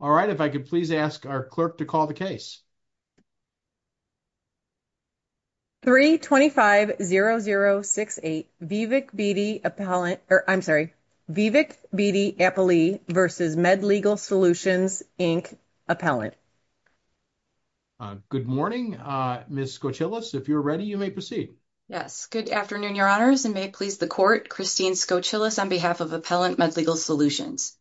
All right, if I could please ask our clerk to call the case. 3-25-0068, Vivek Bedi Appellant, or I'm sorry, Vivek Bedi Appellee v. MedLegal Solutions, Inc. Appellant. Good morning, Ms. Skocilis. If you're ready, you may proceed. Yes, good afternoon, Your Honors, and may it please the Court, Christine Skocilis, on behalf of Appellant MedLegal Solutions.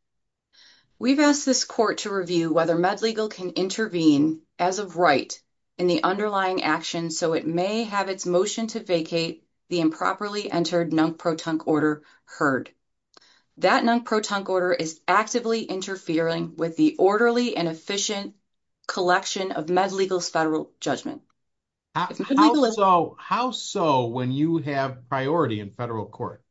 We've asked this Court to review whether MedLegal can intervene as of right in the underlying action so it may have its motion to vacate the improperly entered NUNC-PROTUNC order heard. That NUNC-PROTUNC order is actively interfering with the orderly and efficient collection of MedLegal's federal judgment. How so when you have priority in federal court?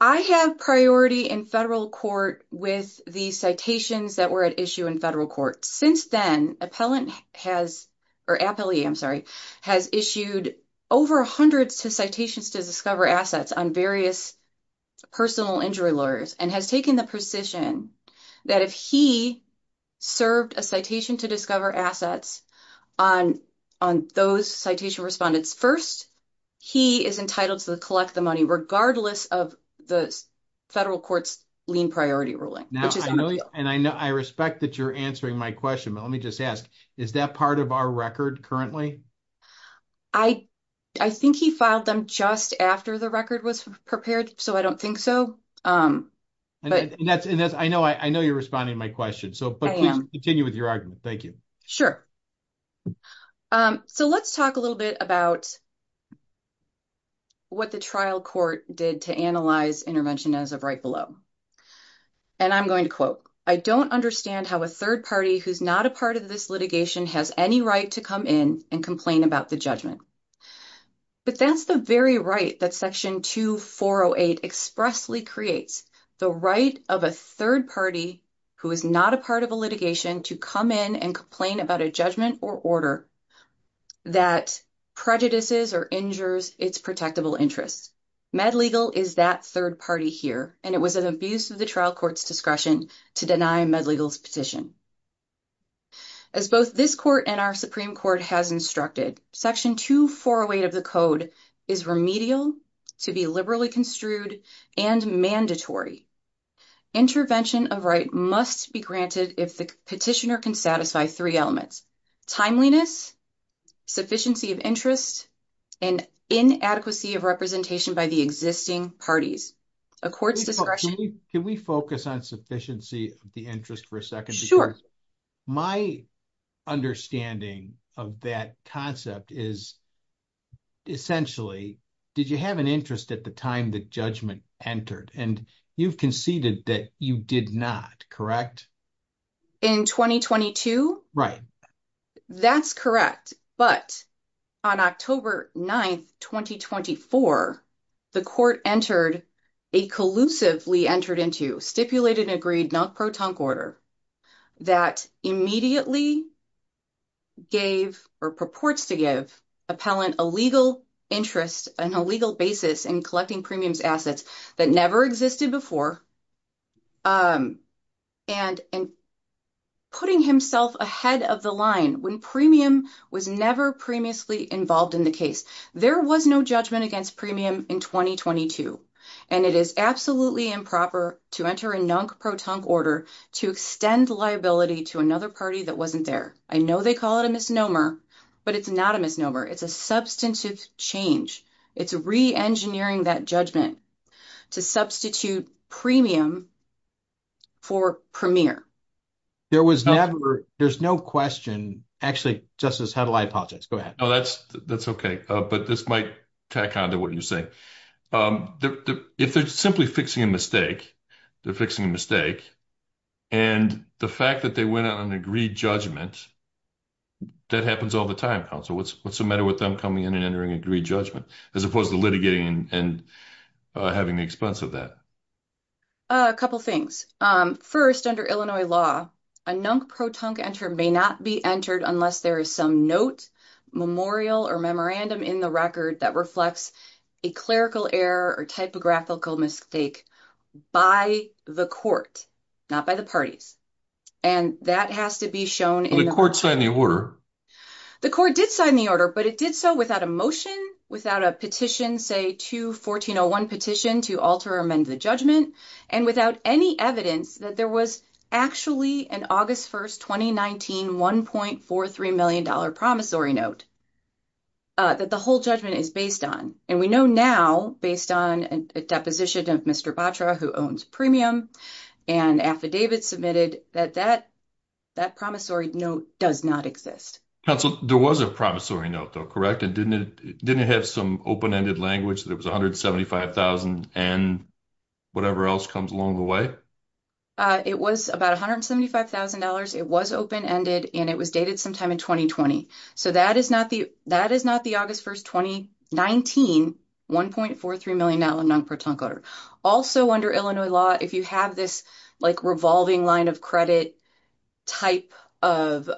I have priority in federal court with the citations that were at issue in federal court. Since then, Appellant has, or Appellee, I'm sorry, has issued over hundreds of citations to discover assets on various personal injury lawyers and has taken the position that if he served a citation to discover assets on those citation respondents, first, he is entitled to collect the money regardless of the federal court's lien priority ruling. I respect that you're answering my question, but let me just ask, is that part of our record currently? I think he filed them just after the record was prepared, so I don't think so. I know you're responding to my question, but please continue with your argument. Thank you. Sure. So let's talk a little bit about what the trial court did to analyze intervention as of right below. And I'm going to quote, I don't understand how a third party who's not a part of this litigation has any right to come in and complain about the judgment. But that's the very right that Section 2408 expressly creates, the right of a third party who is not a part of a litigation to come in and complain about a judgment or order that prejudices or injures its protectable interests. MedLegal is that third party here, and it was an abuse of the trial court's discretion to deny MedLegal's petition. As both this court and our Supreme Court has instructed, Section 2408 of the code is remedial to be liberally construed and mandatory. Intervention of right must be granted if the petitioner can satisfy three elements, timeliness, sufficiency of interest, and inadequacy of representation by the existing parties. A court's discretion... Can we focus on sufficiency of the interest for a second? Sure. My understanding of that concept is essentially, did you have an interest at the time the judgment entered? And you've conceded that you did not, correct? In 2022? Right. That's correct. But on October 9th, 2024, the court entered a collusively entered into, stipulated and agreed non-protonc order that immediately gave or purports to give appellant a legal interest and a legal basis in collecting premiums assets that never existed before and putting himself ahead of the line when premium was never previously involved in the case. There was no judgment against premium in 2022, and it is absolutely improper to enter a non-protonc order to extend liability to another party that wasn't there. I know they call it a misnomer, but it's not a misnomer. It's a substantive change. It's re-engineering that judgment to substitute premium for premier. There was never... There's no question... Actually, Justice Heddle, I apologize. Go ahead. No, that's okay. But this might tack onto what you're saying. If they're simply fixing a mistake, they're fixing a mistake, and the fact that they went on an agreed judgment, that happens all the time, counsel. What's the matter with them coming in and entering agreed judgment as opposed to litigating and having the expense of that? A couple of things. First, under Illinois law, a non-protonc enter may not be entered unless there is some note, memorial, or memorandum in the record that reflects a clerical error or typographical mistake by the court, not by the parties. And that has to be shown in... The court signed the order. The court did sign the order, but it did so without a motion, without a petition, say, 2-1401 petition to alter or amend the judgment, and without any evidence that there was actually an August 1st, 2019, $1.43 million promissory note that the whole judgment is based on. And we know now, based on a deposition of Mr. Batra, who owns premium, and affidavits submitted, that that promissory note does not exist. Counsel, there was a promissory note, though, correct? And didn't it have some open-ended language that it was $175,000 and whatever else comes along the way? It was about $175,000. It was open-ended, and it was dated sometime in 2020. So, that is not the August 1st, 2019, $1.43 million non-pertunct order. Also, under Illinois law, if you have this revolving line of credit type of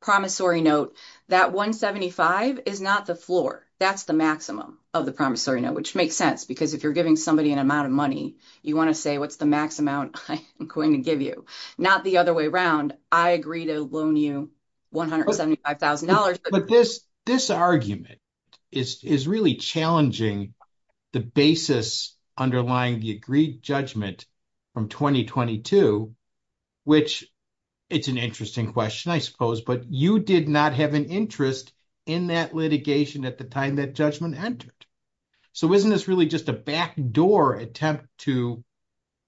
promissory note, that $175,000 is not the floor. That's the maximum of the promissory note, which makes sense, because if you're giving somebody an amount of money, you want to say, what's the max amount I'm going to give you? Not the other way around. I agree to loan you $175,000. But this argument is really challenging the basis underlying the agreed judgment from 2022, which it's an interesting question, I suppose, but you did not have an interest in that litigation at the time that judgment entered. So, isn't this really just a back door attempt to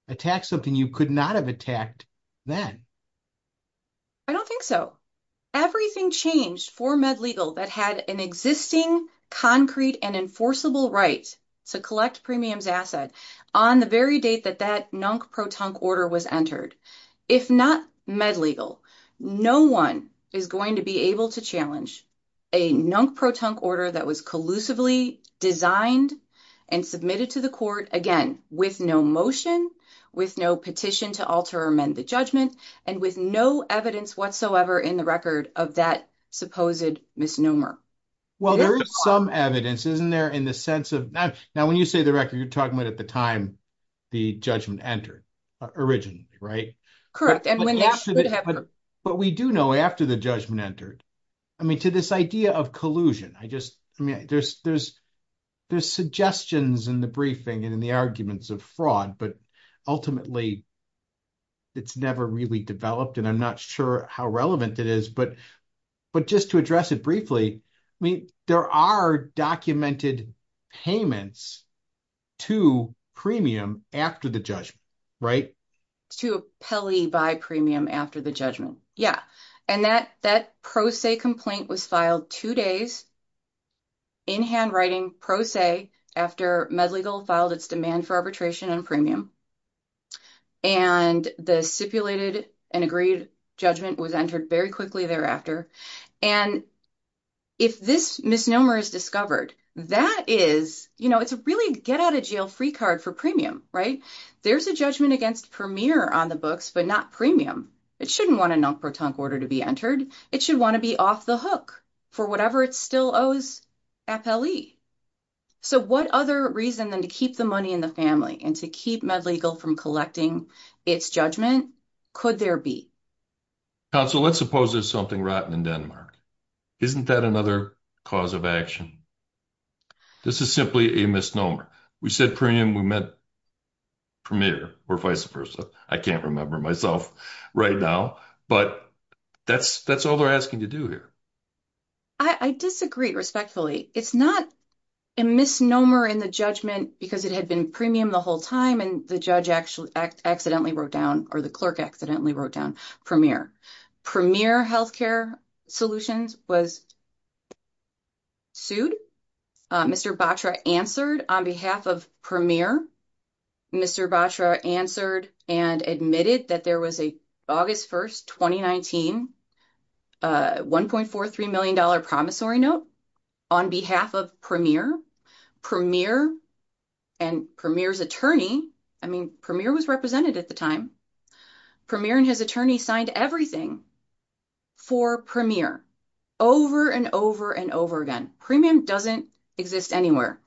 attack something you could not have attacked then? I don't think so. Everything changed for MedLegal that had an existing concrete and enforceable right to collect premiums asset on the very date that that non-pertunct order was entered. If not MedLegal, no one is going to be able to challenge a non-pertunct order that was collusively designed and submitted to the court, again, with no motion, with no petition to alter or amend the judgment, and with no evidence whatsoever in the record of that supposed misnomer. Well, there is some evidence, isn't there, in the sense of... Now, when you say the record, you're talking about at the time the judgment entered originally, right? Correct, and when that would have occurred. I mean, to this idea of collusion, I just... I mean, there's suggestions in the briefing and in the arguments of fraud, but ultimately, it's never really developed, and I'm not sure how relevant it is. But just to address it briefly, I mean, there are documented payments to premium after the judgment, right? To appellee by premium after the judgment. Yeah, and that pro se complaint was filed two days in handwriting, pro se, after MedLegal filed its demand for arbitration on premium, and the stipulated and agreed judgment was entered very quickly thereafter. And if this misnomer is discovered, that is, you know, it's a really get-out-of-jail-free card for premium, right? There's a judgment against Premier on the books, but not premium. It shouldn't want a non-pertunct order to be entered. It should want to be off the hook for whatever it still owes appellee. So what other reason than to keep the money in the family and to keep MedLegal from collecting its judgment could there be? Counsel, let's suppose there's something rotten in Denmark. Isn't that another cause of action? This is simply a misnomer. We said premium, we meant Premier, or vice versa. I can't remember myself right now, but that's all they're asking to do here. I disagree respectfully. It's not a misnomer in the judgment because it had been premium the whole time and the judge actually accidentally wrote down, or the clerk accidentally wrote down Premier. Premier Healthcare Solutions was sued. Mr. Batra answered on behalf of Premier. Mr. Batra answered and admitted that there was a August 1st, 2019, $1.43 million promissory note on behalf of Premier. Premier and Premier's attorney, I mean, Premier was represented at the time, Premier and his attorney signed everything for Premier over and over and over again. Premium doesn't exist anywhere.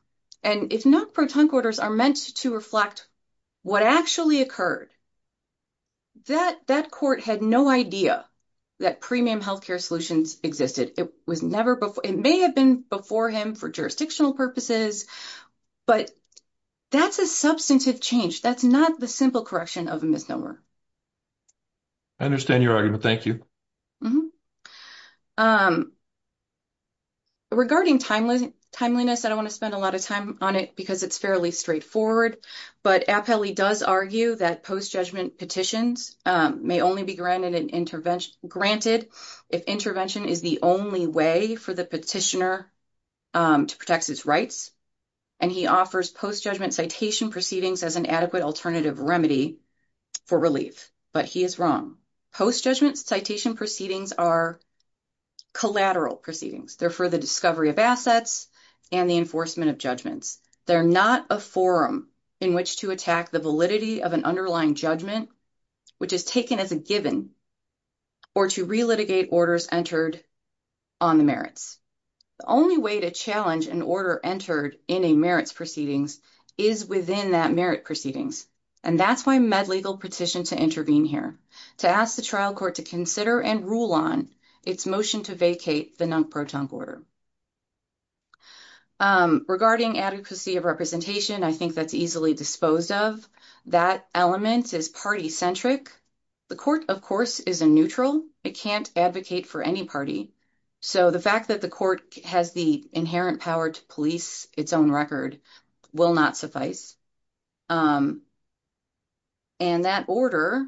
And if not, pro-tunc orders are meant to reflect what actually occurred. That court had no idea that Premium Healthcare Solutions existed. It may have been before him for jurisdictional purposes, but that's a substantive change. That's not the simple correction of a misnomer. I understand your argument. Thank you. Regarding timeliness, I don't want to spend a lot of time on it because it's fairly straightforward, but Appellee does argue that post-judgment petitions may only be granted if intervention is the only way for the petitioner to protect his rights. And he offers post-judgment citation proceedings as an adequate alternative remedy for relief, but he is wrong. Post-judgment citation proceedings are collateral proceedings. They're for the discovery of assets and the enforcement of judgments. They're not a forum in which to attack the validity of an underlying judgment, which is taken as a given, or to re-litigate orders entered on the merits. The only way to an order entered in a merits proceedings is within that merit proceedings, and that's why med legal petitioned to intervene here, to ask the trial court to consider and rule on its motion to vacate the nunc protunc order. Regarding adequacy of representation, I think that's easily disposed of. That element is party-centric. The court, of course, is a neutral. It can't advocate for any party. So the fact that the court has the inherent power to police its own record will not suffice. And that order,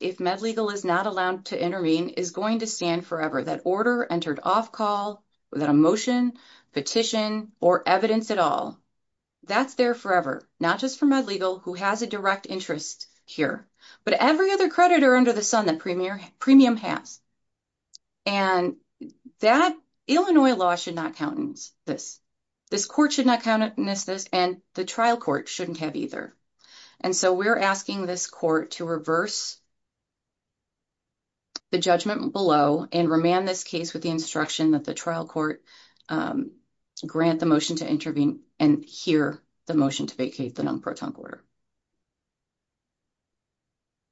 if med legal is not allowed to intervene, is going to stand forever. That order entered off-call, without a motion, petition, or evidence at all, that's there forever, not just for med legal, who has a direct interest here, but every other creditor under the sun that premium has. And that Illinois law should not countenance this. This court should not countenance this, and the trial court shouldn't have either. And so we're asking this court to reverse the judgment below and remand this case with the instruction that the trial court grant the motion to intervene and hear the motion to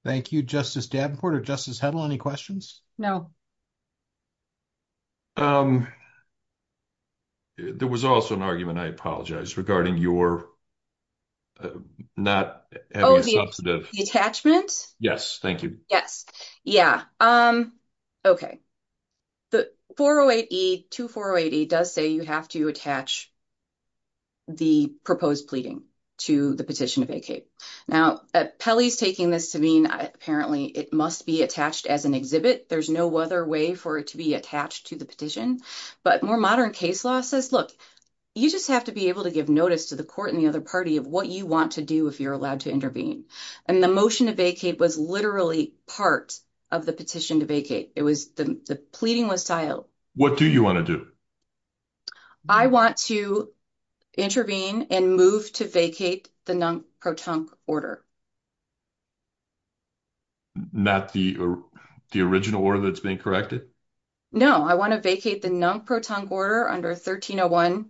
Thank you. Justice Davenport or Justice Hedl, any questions? There was also an argument, I apologize, regarding your not having a substantive Detachment? Yes. Thank you. Yes. Yeah. Okay. The 408E, 2408E does say you have to attach the proposed pleading to the petition to vacate. Now, Pelly's taking this to mean, apparently, it must be attached as an exhibit. There's no other way for it to be attached to the petition. But more modern case law says, look, you just have to be able to give notice to the court and the other party of what you want to do if you're allowed to intervene. And the motion to vacate was literally part of the petition to vacate. It was the pleading was tiled. What do you want to do? I want to intervene and move to vacate the NUNC-PROTUNC order. Not the original order that's been corrected? No, I want to vacate the NUNC-PROTUNC order under 1301E.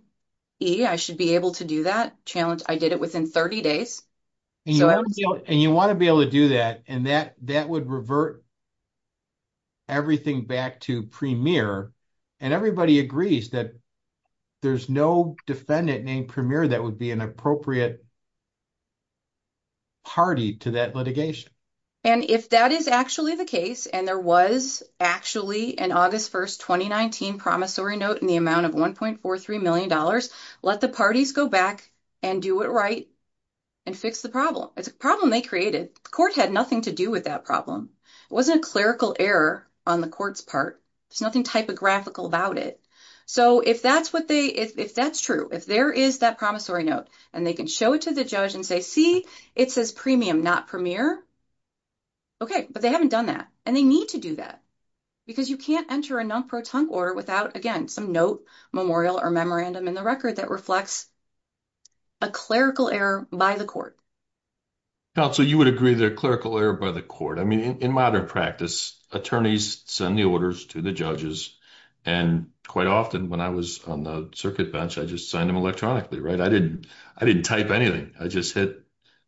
I should be able to do that. Challenge, I did it within 30 days. And you want to be able to do that. And that would revert everything back to premier. And everybody agrees that there's no defendant named premier that would be an appropriate party to that litigation. And if that is actually the case, and there was actually an August 1, 2019, promissory note in the amount of $1.43 million, let the parties go back and do it right and fix the problem. It's a problem they created. The court had nothing to do with that problem. It wasn't a clerical error on the court's part. There's nothing typographical about it. So if that's what they, if that's true, if there is that promissory note, and they can show it to the judge and say, see, it says premium, not premier. Okay, but they haven't done that. And they need to do that. Because you can't enter a NUNC-PROTUNC order without, again, some note, memorial or memorandum in the record that reflects a clerical error by the court. Counsel, you would agree they're clerical error by the court. I mean, in modern practice, attorneys send the orders to the judges. And quite often when I was on the circuit bench, I just signed them electronically, right? I didn't type anything. I just hit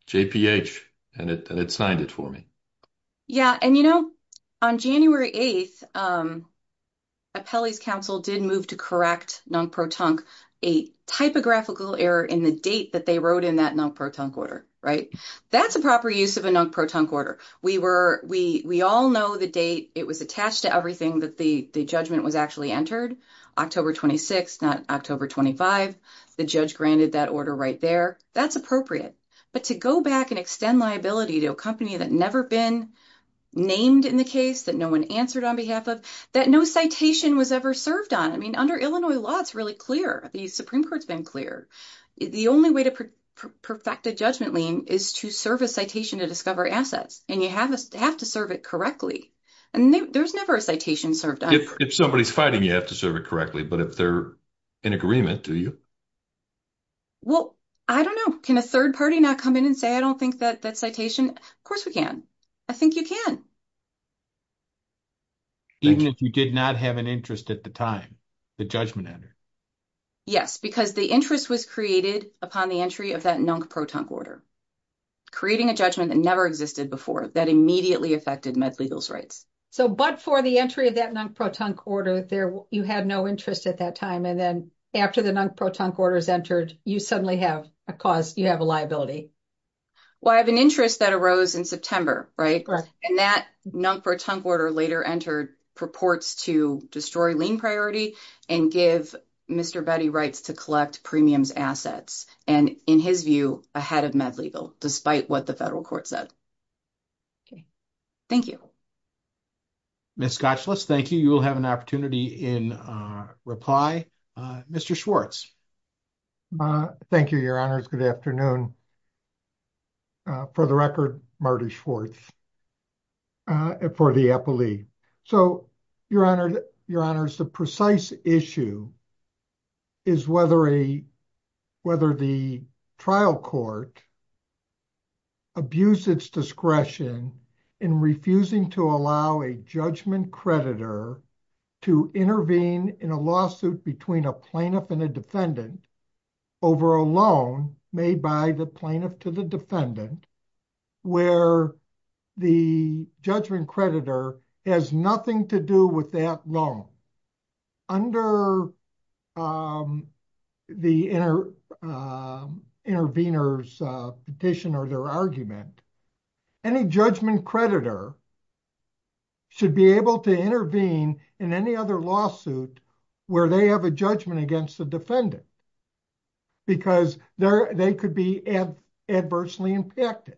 JPH, and it signed it for me. Yeah. And you know, on January 8, Appellee's counsel did move to correct NUNC-PROTUNC, a typographical error in the date that they wrote in that NUNC-PROTUNC order, right? That's a proper use of a NUNC-PROTUNC order. We were, we all know the date it was attached to everything that the judgment was actually entered, October 26, not October 25. The judge granted that order right there. That's appropriate. But to go back and extend liability to a company that never been named in the case, that no one answered on behalf of, that no citation was ever served on. I mean, under Illinois law, it's really clear. The Supreme Court's been clear. The only way to perfect a judgment lien is to serve a citation to discover assets, and you have to serve it correctly. And there's never a citation served on it. If somebody's fighting, you have to serve it correctly. But if they're in agreement, do you? Well, I don't know. Can a third party not come in and say, I don't think that citation? Of course we can. I think you can. Even if you did not have an interest at the time, the judgment entered? Yes, because the interest was created upon the entry of that NUNC-PROTUNC order, creating a judgment that never existed before that immediately affected MedLegal's rights. So, but for the entry of that NUNC-PROTUNC order, there, you had no interest at that time. And then after the NUNC-PROTUNC order is entered, you suddenly have a cause, you have a liability. Well, I have an interest that arose in September, right? Correct. And that NUNC-PROTUNC order later entered purports to destroy lien priority and give Mr. Betty rights to collect premiums assets. And in his view, ahead of MedLegal, despite what the federal court said. Okay. Thank you. Ms. Gotchlitz, thank you. You will have an opportunity in reply. Mr. Schwartz. Thank you, your honors. Good afternoon. For the record, Marty Schwartz. For the epilee. So, your honors, the precise issue is whether the trial court abused its discretion in refusing to allow a judgment creditor to intervene in a lawsuit between a plaintiff and a defendant over a loan made by the plaintiff to the defendant, where the judgment creditor has nothing to do with that loan. Under the intervener's petition or their argument, any judgment creditor should be able to intervene in any other lawsuit where they have a judgment against the defendant because they could be adversely impacted.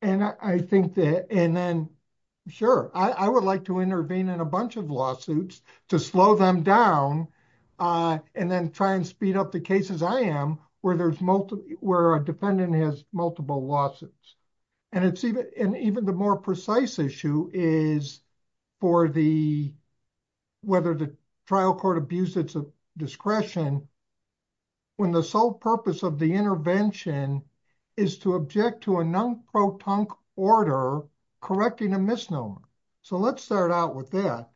And I think that, and then, sure, I would like to intervene in a bunch of lawsuits to slow them down and then try and speed up the cases I am where there's multiple, where a defendant has multiple lawsuits. And even the more precise issue is for the, whether the trial court abused its discretion when the sole purpose of the intervention is to object to a non-proton order correcting a misnomer. So, let's start out with that.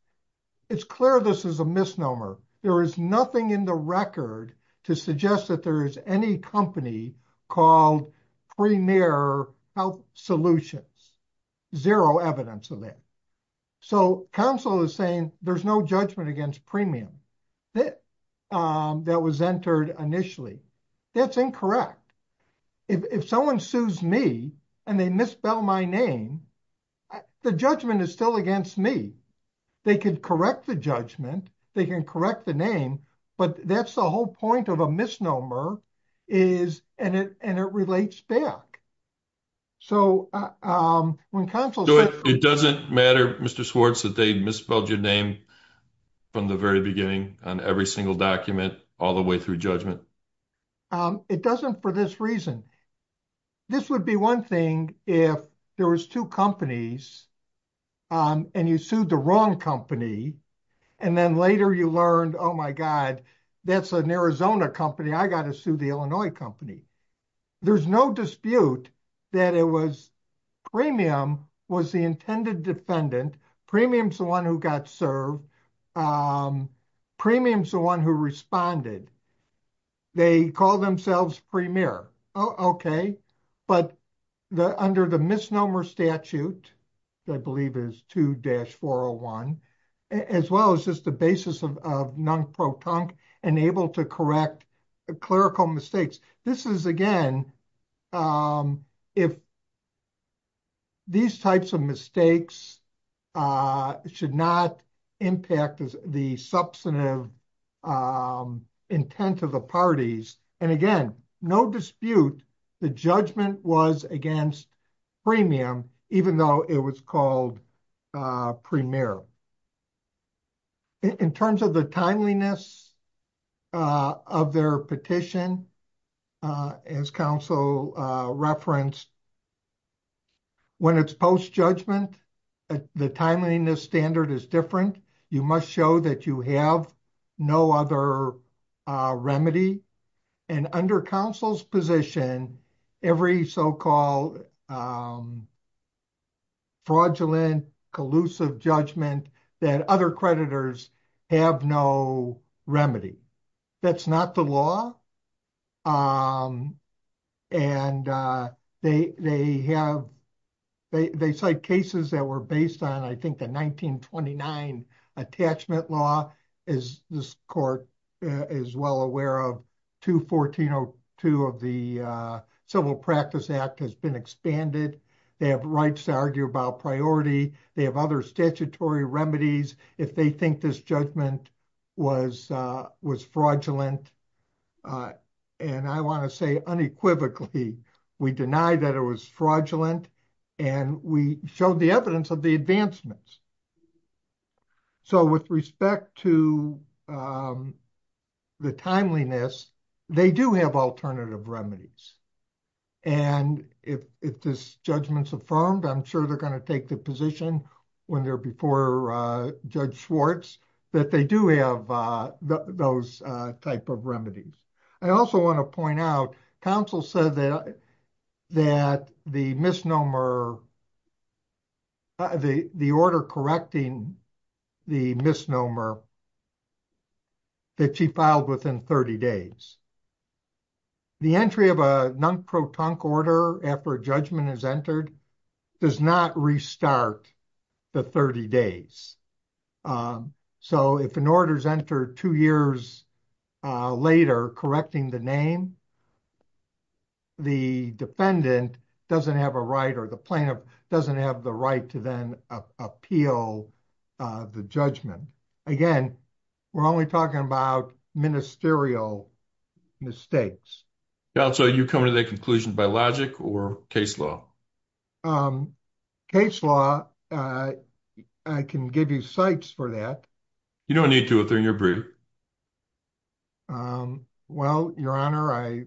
It's clear this is a misnomer. There is nothing in the record to suggest that there is any company called Premier Health Solutions. Zero evidence of that. So, counsel is saying there's no judgment against premium that was entered initially. That's incorrect. If someone sues me and they misspell my name, the judgment is still against me. They could correct the judgment. They can correct the name, but that's the whole point of a misnomer is, and it relates back. So, when counsel says- It doesn't matter, Mr. Swartz, that they misspelled your name from the very beginning on every single document all the way through judgment? It doesn't for this reason. This would be one thing if there was two companies and you sued the wrong company, and then later you learned, oh my God, that's an Arizona company. I got to sue the Illinois company. There's no dispute that it was premium was the intended defendant. Premium's the one who got served. Premium's the one who responded. They call themselves Premier. Okay. But under the misnomer statute, I believe is 2-401, as well as just the basis of non-proton and able to correct clerical mistakes. This is, again, if these types of mistakes should not impact the substantive intent of the parties. And again, no dispute, the judgment was against premium, even though it was called Premier. In terms of the timeliness of their petition, as counsel referenced, when it's post-judgment, the timeliness standard is different. You must show that you have no other remedy. And under counsel's position, every so-called fraudulent, collusive judgment that other creditors have no remedy. That's not the law. And they cite cases that were based on, I think, the 1929 attachment law, as this court is well aware of. 214-02 of the Civil Practice Act has been expanded. They have rights to argue about priority. They have other statutory remedies. If they think this judgment was fraudulent, and I want to say unequivocally, we deny that it was fraudulent, and we showed the evidence of the advancements. So with respect to the timeliness, they do have alternative remedies. And if this judgment's affirmed, I'm sure they're going to take the position when they're before Judge Schwartz that they do have those type of remedies. I also want to point out, counsel said that the misnomer, the order correcting the misnomer that she filed within 30 days, the entry of a non-protunct order after a judgment is entered does not restart the 30 days. So if an order is entered two years later correcting the name, the defendant doesn't have a right or the plaintiff doesn't have the right to then appeal the judgment. Again, we're only talking about ministerial mistakes. Counsel, are you coming to that conclusion by logic or case law? Case law, I can give you cites for that. You don't need to if they're in your brief. Well, your honor, I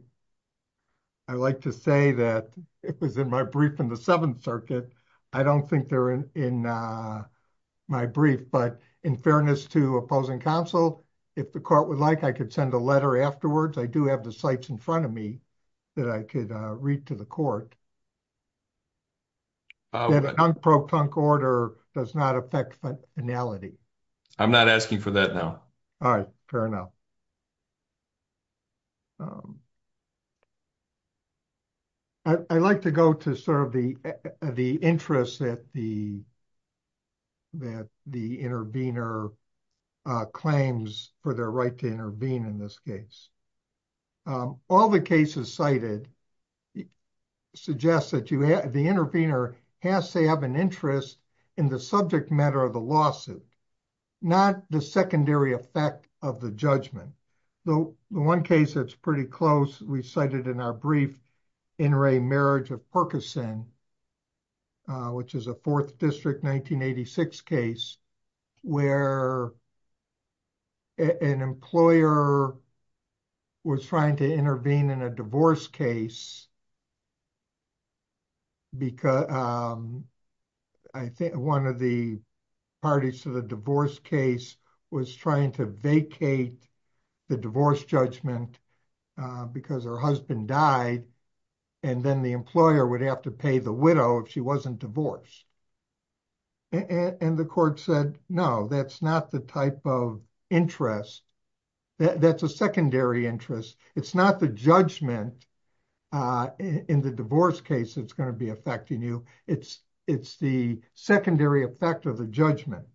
like to say that if it was in my brief in the Seventh Circuit, I don't think they're in my brief. But in fairness to opposing counsel, if the court would like, I could send a letter afterwards. I do have the cites in front of me that I could read to the court. The non-protunct order does not affect finality. I'm not asking for that now. All right, fair enough. I like to go to sort of the interest that the intervener claims for their right to intervene in this case. All the cases cited suggest that the intervener has to have an interest in the subject matter of the lawsuit, not the secondary effect of the judgment. The one case that's pretty close, we cited in our brief, In re Marriage of Perkison, which is a Fourth District 1986 case, where an employer was trying to intervene in a divorce case. I think one of the parties to the divorce case was trying to vacate the divorce judgment because her husband died. Then the employer would have to pay the widow if she wasn't divorced. The court said, no, that's not the type of interest. That's a secondary interest. It's not the judgment in the divorce case that's going to be affecting you. It's the secondary effect of judgment.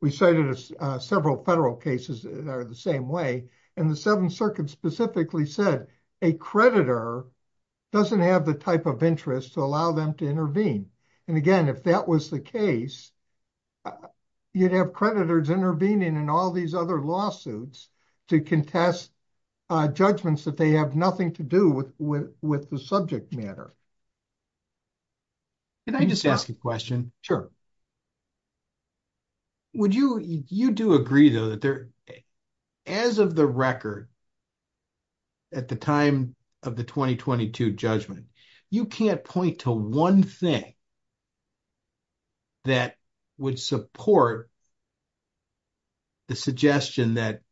We cited several federal cases that are the same way. The Seventh Circuit specifically said a creditor doesn't have the type of interest to allow them to intervene. Again, if that was the case, you'd have creditors intervening in all these other lawsuits to contest judgments that they have nothing to do with the subject matter. Can I just ask a question? Sure. Would you, you do agree though, that there, as of the record, at the time of the 2022 judgment, you can't point to one thing that would support the suggestion that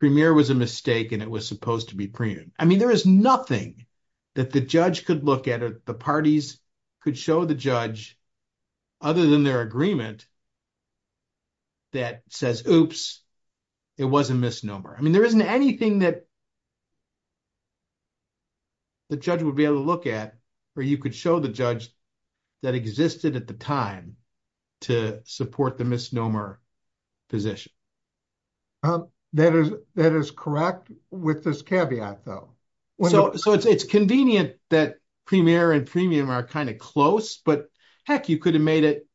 Premier was a mistake and it was supposed to be Premier. I mean, there is nothing that the judge could look at or the parties could show the judge other than their agreement that says, oops, it was a misnomer. I mean, there isn't anything that the judge would be able to look at, or you could show the judge that existed at the time to support the misnomer position. Well, that is correct with this caveat though. So it's convenient that Premier and Premier are kind of close, but heck, you could have made it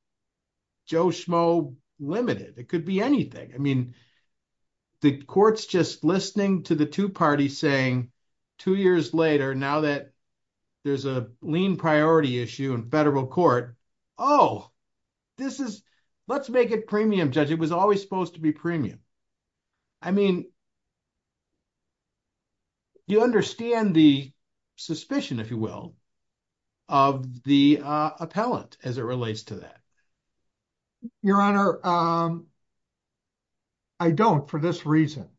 Joe Schmo limited. It could be anything. I mean, the court's just listening to the two parties saying two years later, now that there's a lean priority issue in federal court, oh, this is, let's make it Premium, judge. It was always supposed to be Premium. I mean, you understand the suspicion, if you will, of the appellant as it relates to that. Your Honor, I don't for this reason.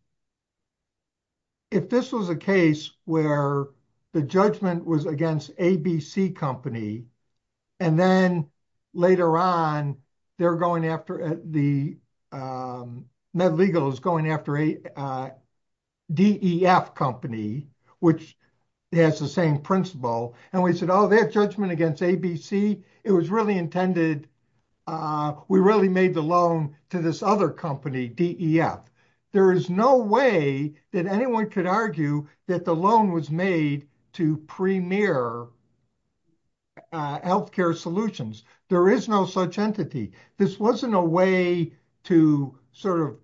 If this was a case where the judgment was against ABC company, and then later on, they're going after the, MedLegal is going after a DEF company, which has the same principle. And we said, oh, that judgment against ABC, it was really intended. We really made the loan to this other company, DEF. There is no way that anyone could argue that the loan was made to Premier Healthcare Solutions. There is no such entity. This wasn't a way to sort of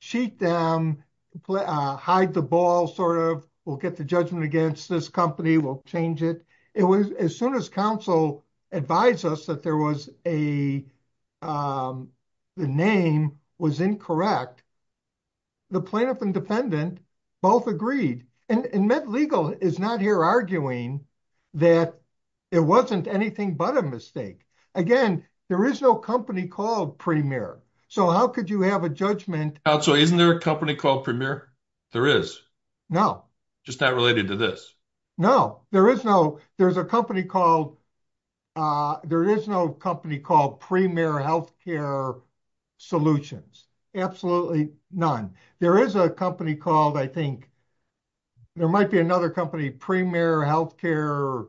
cheat them, hide the ball sort of, we'll get the judgment against this company, we'll change it. It was as soon as counsel advised us that there was a, um, the name was incorrect. The plaintiff and defendant both agreed. And MedLegal is not here arguing that it wasn't anything but a mistake. Again, there is no company called Premier. So how could you have a judgment? So isn't there a company called Premier? There is. No. Just not related to this. No, there is no, there's a company called, uh, there is no company called Premier Healthcare Solutions. Absolutely none. There is a company called, I think there might be another company, Premier Healthcare,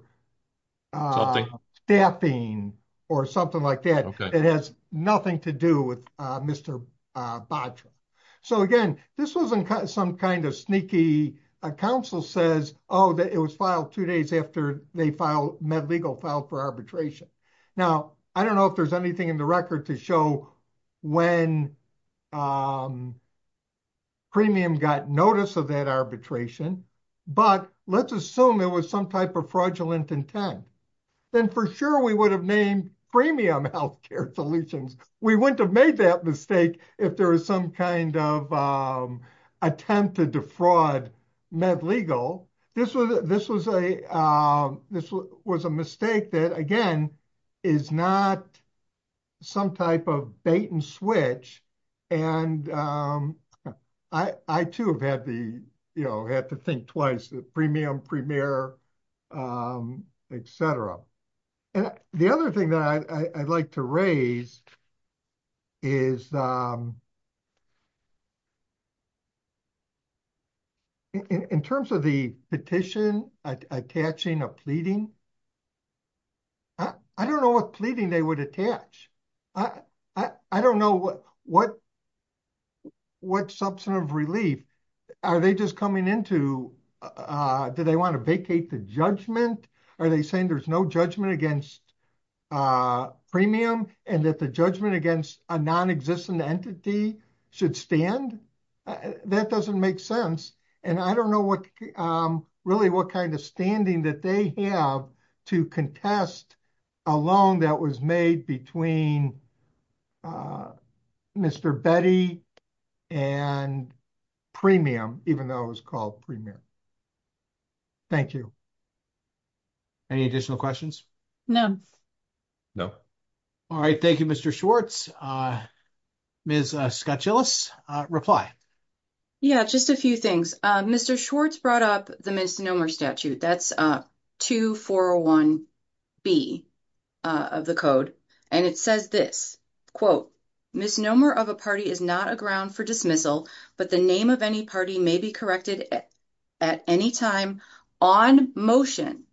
uh, staffing or something like that. It has nothing to do with, uh, Mr. Badger. So again, this wasn't some kind of sneaky counsel says, oh, that it was filed two days after they filed MedLegal filed for arbitration. Now, I don't know if there's anything in the record to show when, um, premium got notice of that arbitration, but let's assume there was some type of fraudulent intent. Then for sure we would have named premium healthcare solutions. We wouldn't have made that mistake if there was some kind of, um, attempt to defraud MedLegal. This was, this was a, um, this was a mistake that again, is not some type of bait and switch. And, um, I, I too have had the, you know, had to think twice, the premium premier, um, et cetera. And the other thing that I, I'd like to raise is, um, in terms of the petition attaching a pleading, I don't know what pleading they would attach. I, I don't know what, what, what substantive relief are they just coming into? Uh, do they want to vacate the judgment? Are they saying there's no against, uh, premium and that the judgment against a non-existent entity should stand? That doesn't make sense. And I don't know what, um, really what kind of standing that they have to contest a loan that was made between, uh, Mr. Betty and premium, even though it was called premium. Thank you. Any additional questions? No, no. All right. Thank you, Mr. Schwartz. Uh, Ms. Scott Gillis, uh, reply. Yeah, just a few things. Uh, Mr. Schwartz brought up the misnomer statute. That's, uh, two four one B, uh, of the code. And it says this quote, misnomer of a party is not a ground for dismissal, but the name of any party may be corrected at any time on motion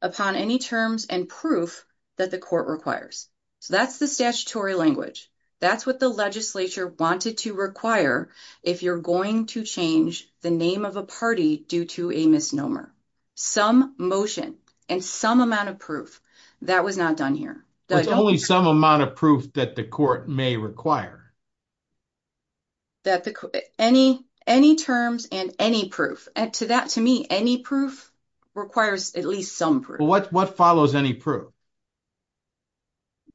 upon any terms and proof that the court requires. So that's the statutory language. That's what the legislature wanted to require. If you're going to change the name of a party due to a misnomer, some motion and some amount of proof that was not done here. Only some amount of proof that the court may require that any, any terms and any proof to that, to me, any proof requires at least some proof. What follows any proof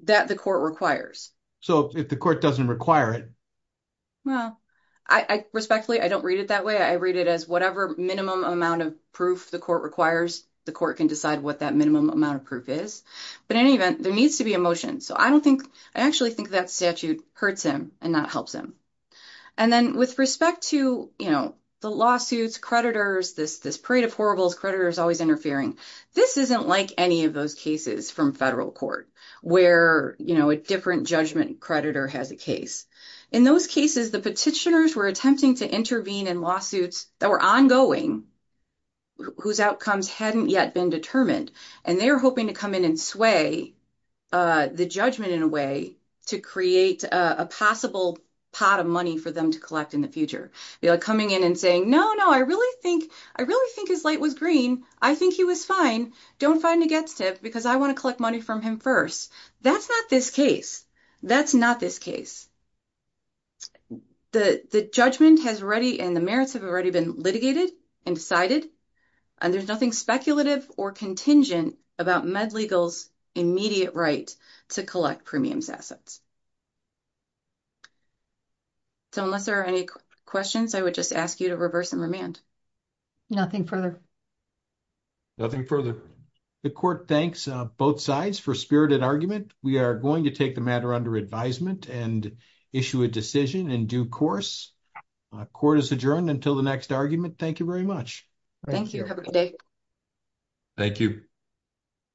that the court requires? So if the court doesn't require it, well, I respectfully, I don't read it that way. I read it as whatever minimum amount of proof the court requires, the court can decide what that minimum amount of proof is. But in any event, there needs to be a motion. So I don't think, I actually think that statute hurts him and not helps him. And then with respect to, you know, the lawsuits, creditors, this, this parade of horribles, creditors always interfering. This isn't like any of those cases from federal court where, you know, a different judgment creditor has a case. In those cases, the petitioners were attempting to intervene in lawsuits that were ongoing, whose outcomes hadn't yet been determined. And they were hoping to come in and sway the judgment in a way to create a possible pot of money for them to collect in the future. You know, coming in and saying, no, no, I really think, I really think his light was green. I think he was fine. Don't fight him against him because I want to collect money from him first. That's not this case. That's not this case. The, the judgment has ready and the merits have already been litigated and decided, and there's nothing speculative or contingent about MedLegal's immediate right to collect premiums assets. So unless there are any questions, I would just ask you to reverse and remand. Nothing further. Nothing further. The court thanks both sides for spirited argument. We are going to take the matter under advisement and issue a decision in due course. Court is adjourned until the next argument. Thank you very much. Thank you. Have a good day. Thank you.